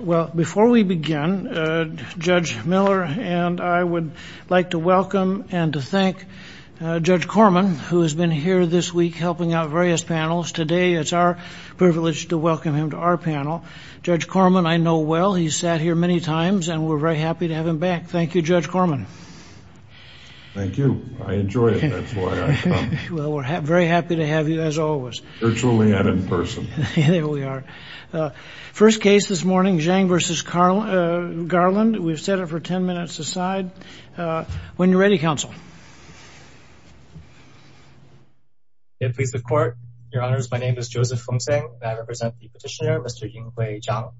Well, before we begin, Judge Miller and I would like to welcome and to thank Judge Korman who has been here this week helping out various panels. Today, it's our privilege to welcome him to our panel. Judge Korman, I know well, he's sat here many times and we're very happy to have him back. Thank you, Judge Korman. Thank you. I enjoy it. That's why I come. Well, we're very happy to have you as always. Virtually and in person. There we are. First case this morning, Zhang v. Garland. We've set it for 10 minutes aside. When you're ready, counsel. Your Honour, my name is Joseph Fung Tsang and I represent the petitioner, Mr. Yinghui Zhang.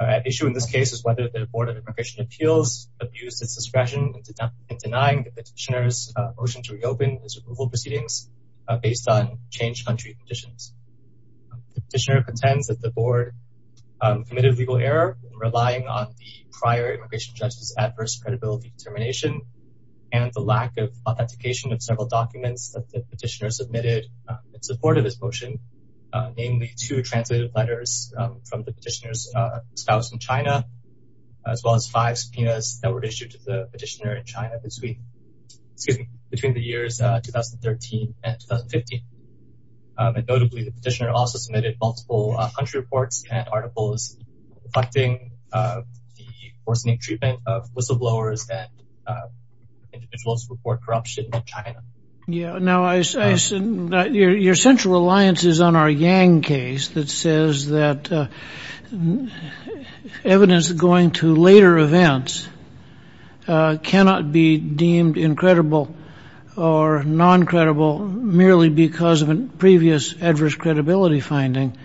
At issue in this case is whether the Board of Immigration Appeals abused its discretion in denying the petitioner's motion to reopen his approval proceedings based on changed country conditions. The petitioner contends that the board committed a legal error in relying on the prior immigration judge's adverse credibility determination and the lack of authentication of several documents that the petitioner submitted in support of his motion, namely two translated letters from the petitioner's spouse in China, as well as five subpoenas that were issued to the petitioner in China between the years 2013 and 2015. Notably, the petitioner also submitted multiple country reports and articles reflecting the worsening treatment of whistleblowers and individuals who report corruption in China. Yeah. Now, your central alliance is on our Yang case that says that evidence going to later events cannot be deemed incredible or non-credible merely because of a previous adverse credibility finding.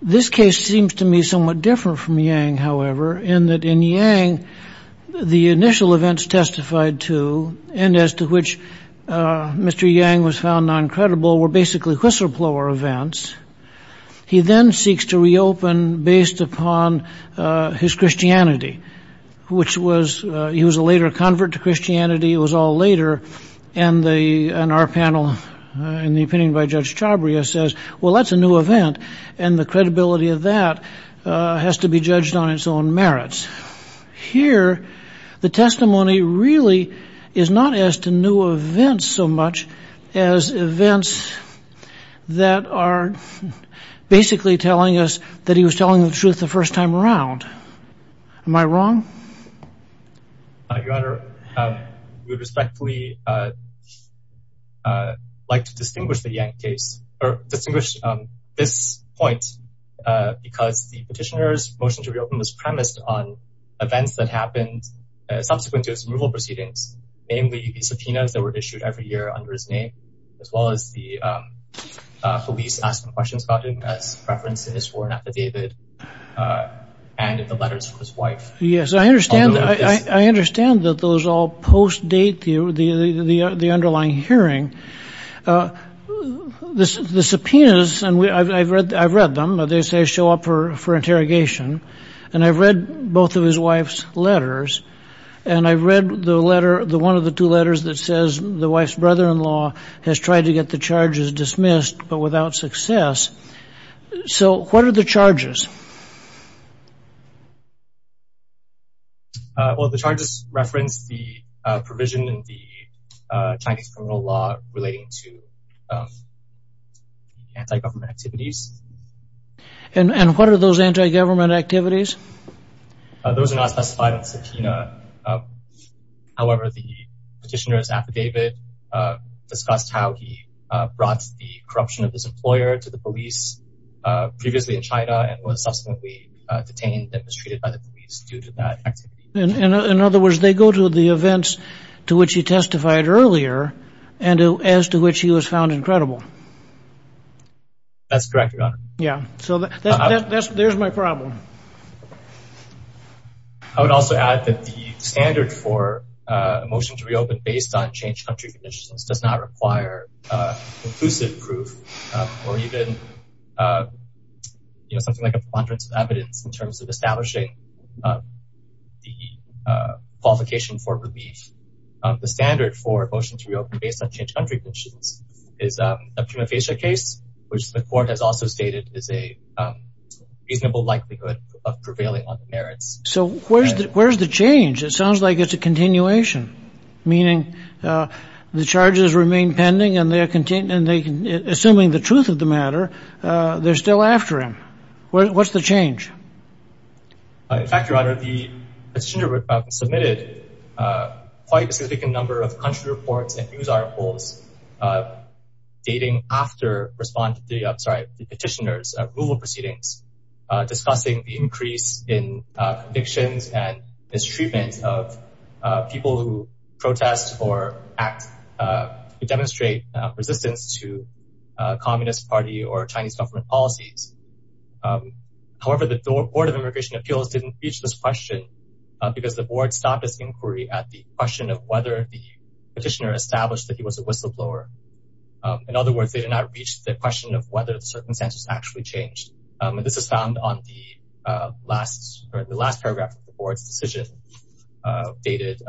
This case seems to me somewhat different from Yang, however, in that in Yang, the initial events testified to and as to which Mr. Yang was found non-credible were basically whistleblower events. He then seeks to reopen based upon his Christianity, which was, he was a later convert to Christianity. It was all later. And our panel, in the opinion by Judge Chabria says, well, that's a new event. And the credibility of that has to be judged on merits. Here, the testimony really is not as to new events so much as events that are basically telling us that he was telling the truth the first time around. Am I wrong? Your Honor, we respectfully like to distinguish the Yang case or distinguish this point because the petitioner's motion to reopen was premised on events that happened subsequent to his removal proceedings, namely the subpoenas that were issued every year under his name, as well as the police asking questions about him as referenced in his sworn affidavit and in the letters from his wife. Yes, I understand. I understand that those all postdate the underlying hearing. The subpoenas, and I've read them, they say show up for interrogation. And I've read both of his wife's letters. And I've read the letter, the one of the two letters that says the wife's brother-in-law has tried to get the charges dismissed, but without success. So what are the charges? Well, the charges reference the provision in the Chinese criminal law relating to anti-government activities. And what are those anti-government activities? Those are not specified in the subpoena. However, the petitioner's affidavit discussed how he brought the corruption of his employer to the police previously in China and was subsequently detained and mistreated by the police due to that. In other words, they go to the events to which he testified earlier, and as to which he was found incredible. That's correct, Your Honor. Yeah, so there's my problem. I would also add that the standard for a motion to reopen based on changed country conditions does not require conclusive proof, or even something like a preponderance of evidence in terms of establishing the qualification for relief. The standard for a motion to reopen based on changed country conditions is a prima facie case, which the court has also stated is a prevailing on the merits. So where's the change? It sounds like it's a continuation, meaning the charges remain pending, and assuming the truth of the matter, they're still after him. What's the change? In fact, Your Honor, the petitioner submitted quite a significant number of country reports and news articles dating after the petitioner's removal proceedings, discussing the increase in convictions and mistreatment of people who protest or act to demonstrate resistance to Communist Party or Chinese government policies. However, the Board of Immigration Appeals didn't reach this question because the board stopped its inquiry at the question of whether the petitioner established that he was a whistleblower. In other words, they did not reach the question of whether the circumstances actually changed. This is found on the last paragraph of the board's decision dated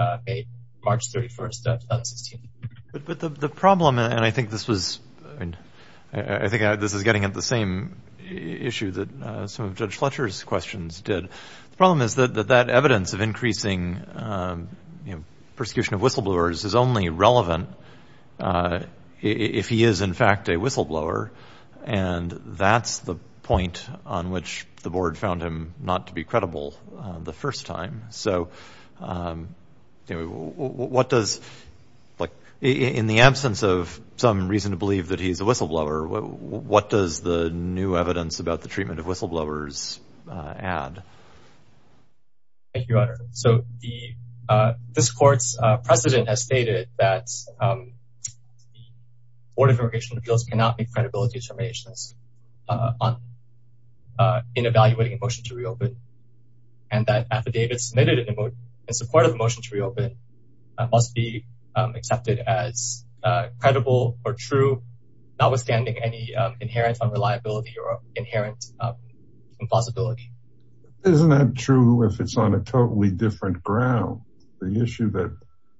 March 31st, 2016. But the problem, and I think this is getting at the same issue that some of Judge Fletcher's questions did. The problem is that that evidence of increasing persecution of whistleblowers is only that's the point on which the board found him not to be credible the first time. So what does, like, in the absence of some reason to believe that he's a whistleblower, what does the new evidence about the treatment of whistleblowers add? Thank you, Your Honor. So this court's president has stated that Board of Immigration Appeals cannot make credibility determinations in evaluating a motion to reopen, and that affidavits submitted in support of a motion to reopen must be accepted as credible or true, notwithstanding any inherent unreliability or inherent impossibility. Isn't that true if it's on a totally different ground? The issue that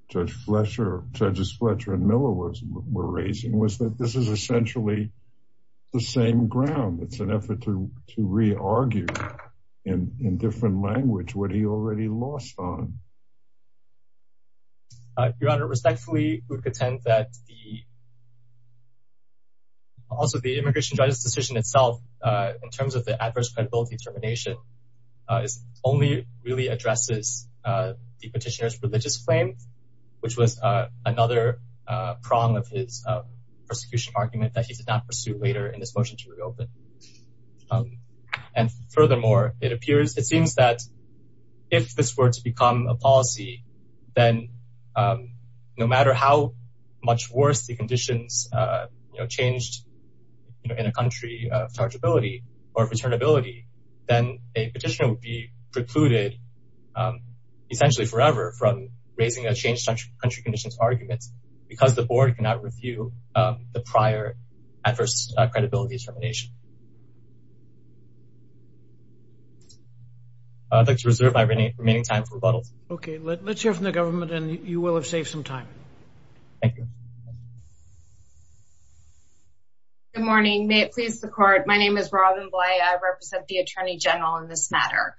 Judge Fletcher, Judges Fletcher and Miller were raising was that this is essentially the same ground. It's an effort to re-argue in different language what he already lost on. Your Honor, respectfully, I would contend that also the immigration judge's decision itself, in terms of the adverse credibility determination, is only really addresses the petitioner's religious claim, which was another prong of his persecution argument that he did not pursue later in this motion to reopen. And furthermore, it appears, it seems that if this were to become a policy, then no matter how much worse the conditions changed in a country of chargeability or returnability, then a petitioner would be precluded essentially forever from raising a changed country conditions argument because the board cannot review the prior adverse credibility determination. I'd like to reserve my remaining time for rebuttals. Okay, let's hear from the government and you will have saved some time. Thank you. Good morning. May it please the court. My name is Robin Bley. I represent the Attorney General in this matter.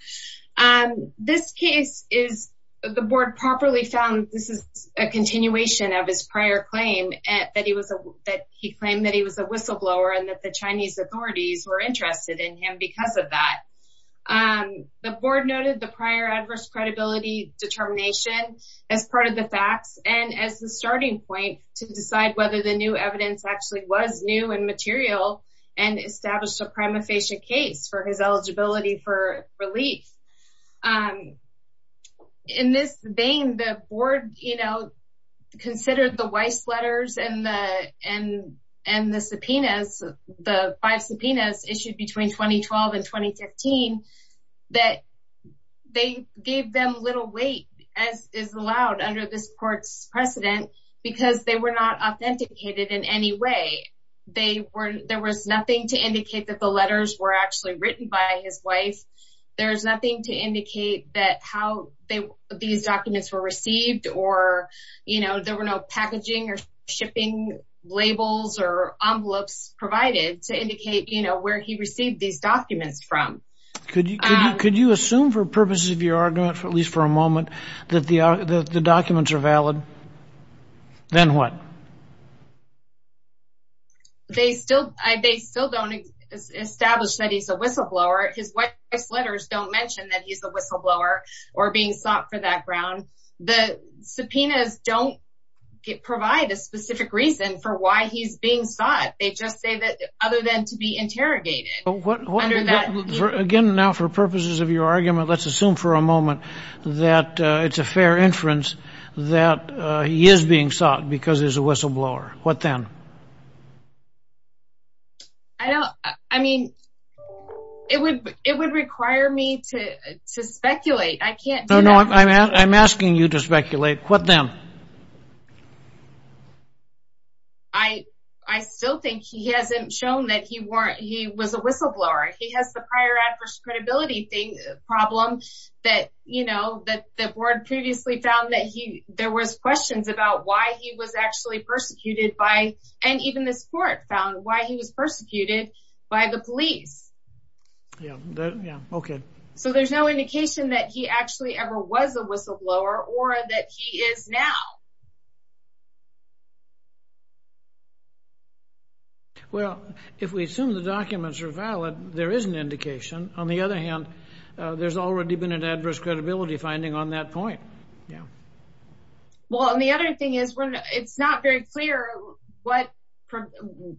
This case is, the board properly found this is a continuation of his prior claim at that he was a, that he claimed that he was a whistleblower and that the Chinese authorities were interested in him because of that. The board noted the prior adverse credibility determination as part of the facts and as the starting point to the case. Whether the new evidence actually was new and material and established a prima facie case for his eligibility for relief. In this vein, the board, you know, considered the Weiss letters and the, and, and the subpoenas, the five subpoenas issued between 2012 and 2015, that they gave them little weight as is allowed under this court's precedent because they were not authenticated in any way. They were, there was nothing to indicate that the letters were actually written by his wife. There's nothing to indicate that how they, these documents were received, or, you know, there were no packaging or shipping labels or envelopes provided to indicate, you know, where he received these documents from. Could you, could you assume for purposes of your argument for at least for a moment that the documents are valid? Then what? They still, they still don't establish that he's a whistleblower. His Weiss letters don't mention that he's a whistleblower or being sought for that ground. The subpoenas don't provide a specific reason for why he's being sought. They just say that other than to be interrogated. Again, now for purposes of your argument, let's assume for a moment that it's a fair inference that he is being sought because he's a whistleblower. What then? I don't, I mean, it would, it would require me to speculate. I can't do that. No, no, I'm asking you to speculate. What then? I, I still think he hasn't shown that he weren't, he was a whistleblower. He has the prior adverse credibility thing, problem that, you know, that the board previously found that he, there was questions about why he was actually persecuted by, and even this court found why he was persecuted by the police. Yeah. Yeah. Okay. So there's no indication that he actually ever was a whistleblower or that he is now. Well, if we assume the documents are valid, there is an indication. On the other hand, there's already been an adverse credibility finding on that point. Yeah. Well, and the other thing is when it's not very clear what,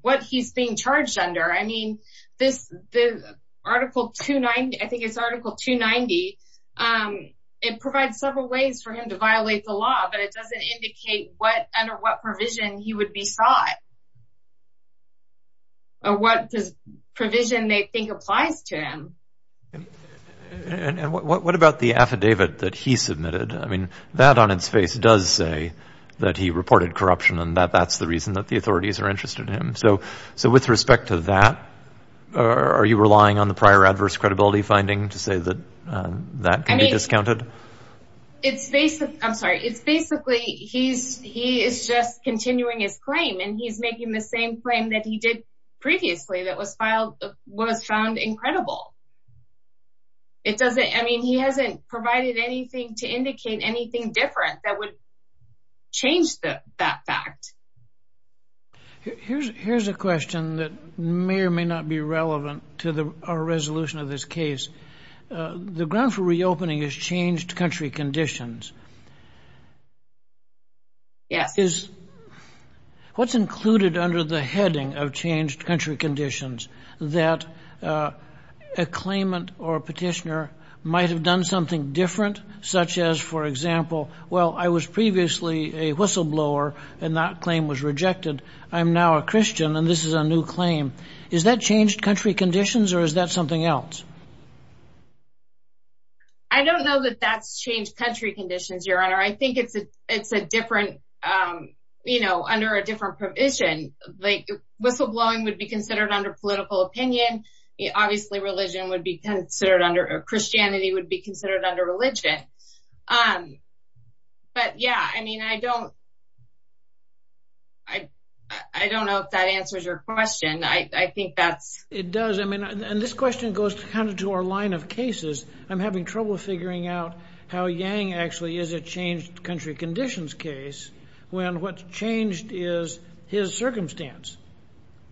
what he's being charged under. I mean, this, the article 290, I think it's article 290. It provides several ways for him to violate the law, but it doesn't indicate what, under what provision he would be sought or what does provision they think applies to him. And, and what, what about the affidavit that he submitted? I mean, that on its face does say that he reported corruption and that that's the reason that the authorities are interested in him. So, so with respect to that, are you relying on the prior adverse credibility finding to say that that can be discounted? It's basically, I'm sorry, it's basically he's, he is just continuing his claim and he's making the same claim that he did previously that was filed, was found incredible. It doesn't, I mean, he hasn't provided anything to indicate anything different that would change that fact. Here's, here's a question that may or may not be relevant to the, our resolution of this case. The ground for reopening is changed country conditions. Yes. Is, what's included under the heading of changed country conditions that a claimant or petitioner might have done something different, such as, for example, well, I was previously a whistleblower and that claim was rejected. I'm now a Christian and this is a new claim. Is that changed country conditions or is that something else? I don't know that that's changed country conditions, your honor. I think it's a, it's a different, you know, under a different provision, like whistleblowing would be considered under political opinion. Obviously religion would be considered under Christianity would be considered under religion. But yeah, I mean, I don't, I, I don't know if that answers your question. I think that's, it does. I mean, and this question goes to kind of to our line of cases. I'm having trouble figuring out how Yang actually is a changed country conditions case when what's changed is his circumstance.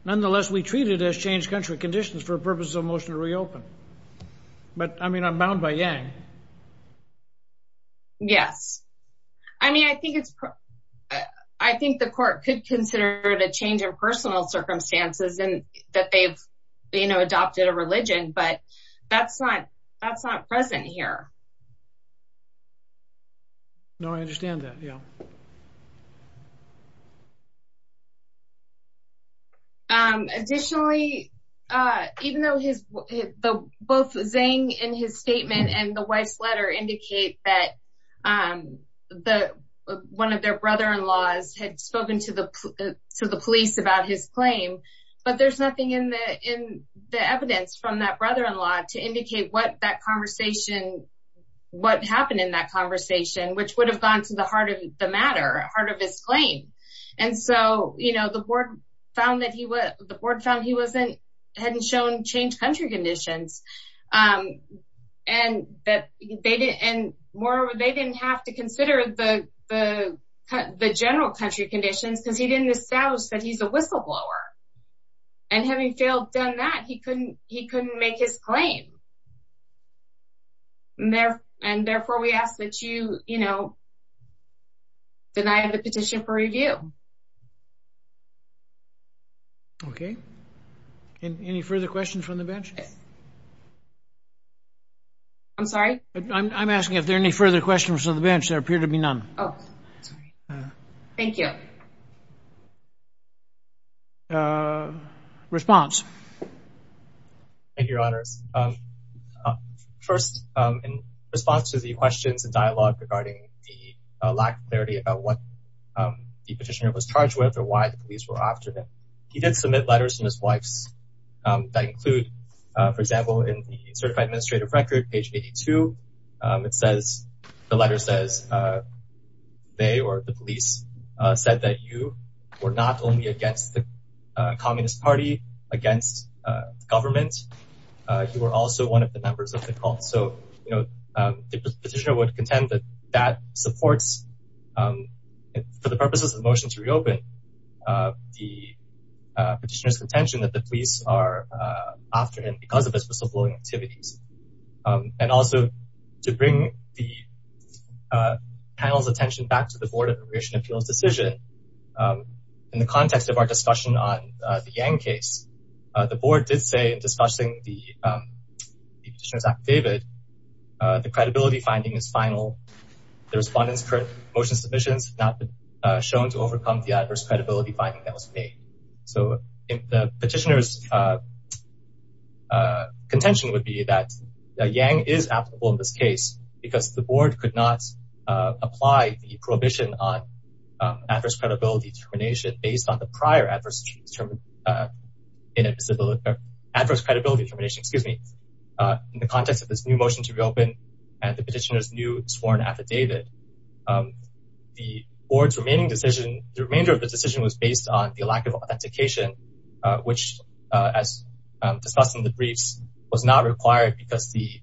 Nonetheless, we treat it as changed country conditions for purposes of motion to reopen. But I mean, I'm bound by Yang. Yes. I mean, I think it's, I think the court could consider it a change in personal circumstances and that they've, you know, adopted a religion, but that's not, that's not present here. No, I understand that. Yeah. Additionally, even though his, both Zeng in his statement and the wife's letter indicate that the, one of their brother-in-laws had spoken to the, to the police about his claim, but there's nothing in the, in the evidence from that brother-in-law to indicate what that conversation, what happened in that conversation, which would have gone to the heart of the matter, heart of his claim. And so, you know, the board found that he was, the board found he wasn't, hadn't shown changed country conditions. And that they didn't, and more, they didn't have to consider the general country conditions because he didn't establish that he's a whistleblower. And having failed done that, he couldn't, he couldn't make his claim. And therefore, we ask that you, you know, deny the petition for review. Okay. Any further questions from the bench? I'm sorry? I'm asking if there are any further questions on the bench. There appear to be none. Oh, thank you. Response. Thank you, your honors. First, in response to the questions and dialogue regarding the lack of clarity about what the petitioner was charged with or why the police were after him, he did submit letters to his wife's that include, for example, in the certified administrative record, page 82, it says, the letter says, they, or the police said that you were not only against the communist party, against government, you were also one of the members of the cult. So, you know, the petitioner would contend that that supports, for the purposes of the motion to reopen, the petitioner's contention that the police are after him because of his whistleblowing activities. And also, to bring the panel's attention back to the board of immigration appeals decision, in the context of our discussion on the Yang case, the board did say in discussing the petitioner's affidavit, the credibility finding is final. The respondents' current motion submissions have not been shown to overcome the adverse credibility finding that was made. So, the petitioner's contention would be that Yang is applicable in this case because the board could not apply the prohibition on adverse credibility determination based on the prior adverse credibility determination, excuse me, in the context of this new motion to reopen, and the petitioner's new sworn affidavit. The board's remaining decision, the remainder of the decision was based on the lack of authentication, which, as discussed in the briefs, was not required because the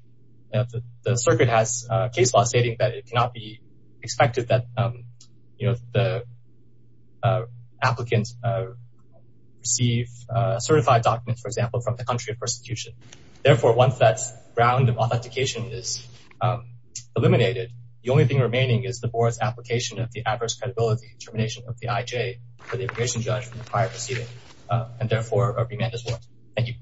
circuit has a case law stating that it cannot be expected that the applicants receive certified documents, for example, from the country of persecution. Therefore, once that ground of authentication is eliminated, the only thing remaining is the board's application of the adverse credibility determination of the IJ for the immigration judge from the prior proceeding, and therefore, a remand is warranted. Thank you.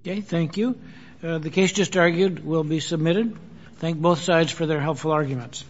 Okay, thank you. The case just argued will be submitted. Thank both sides for their helpful arguments.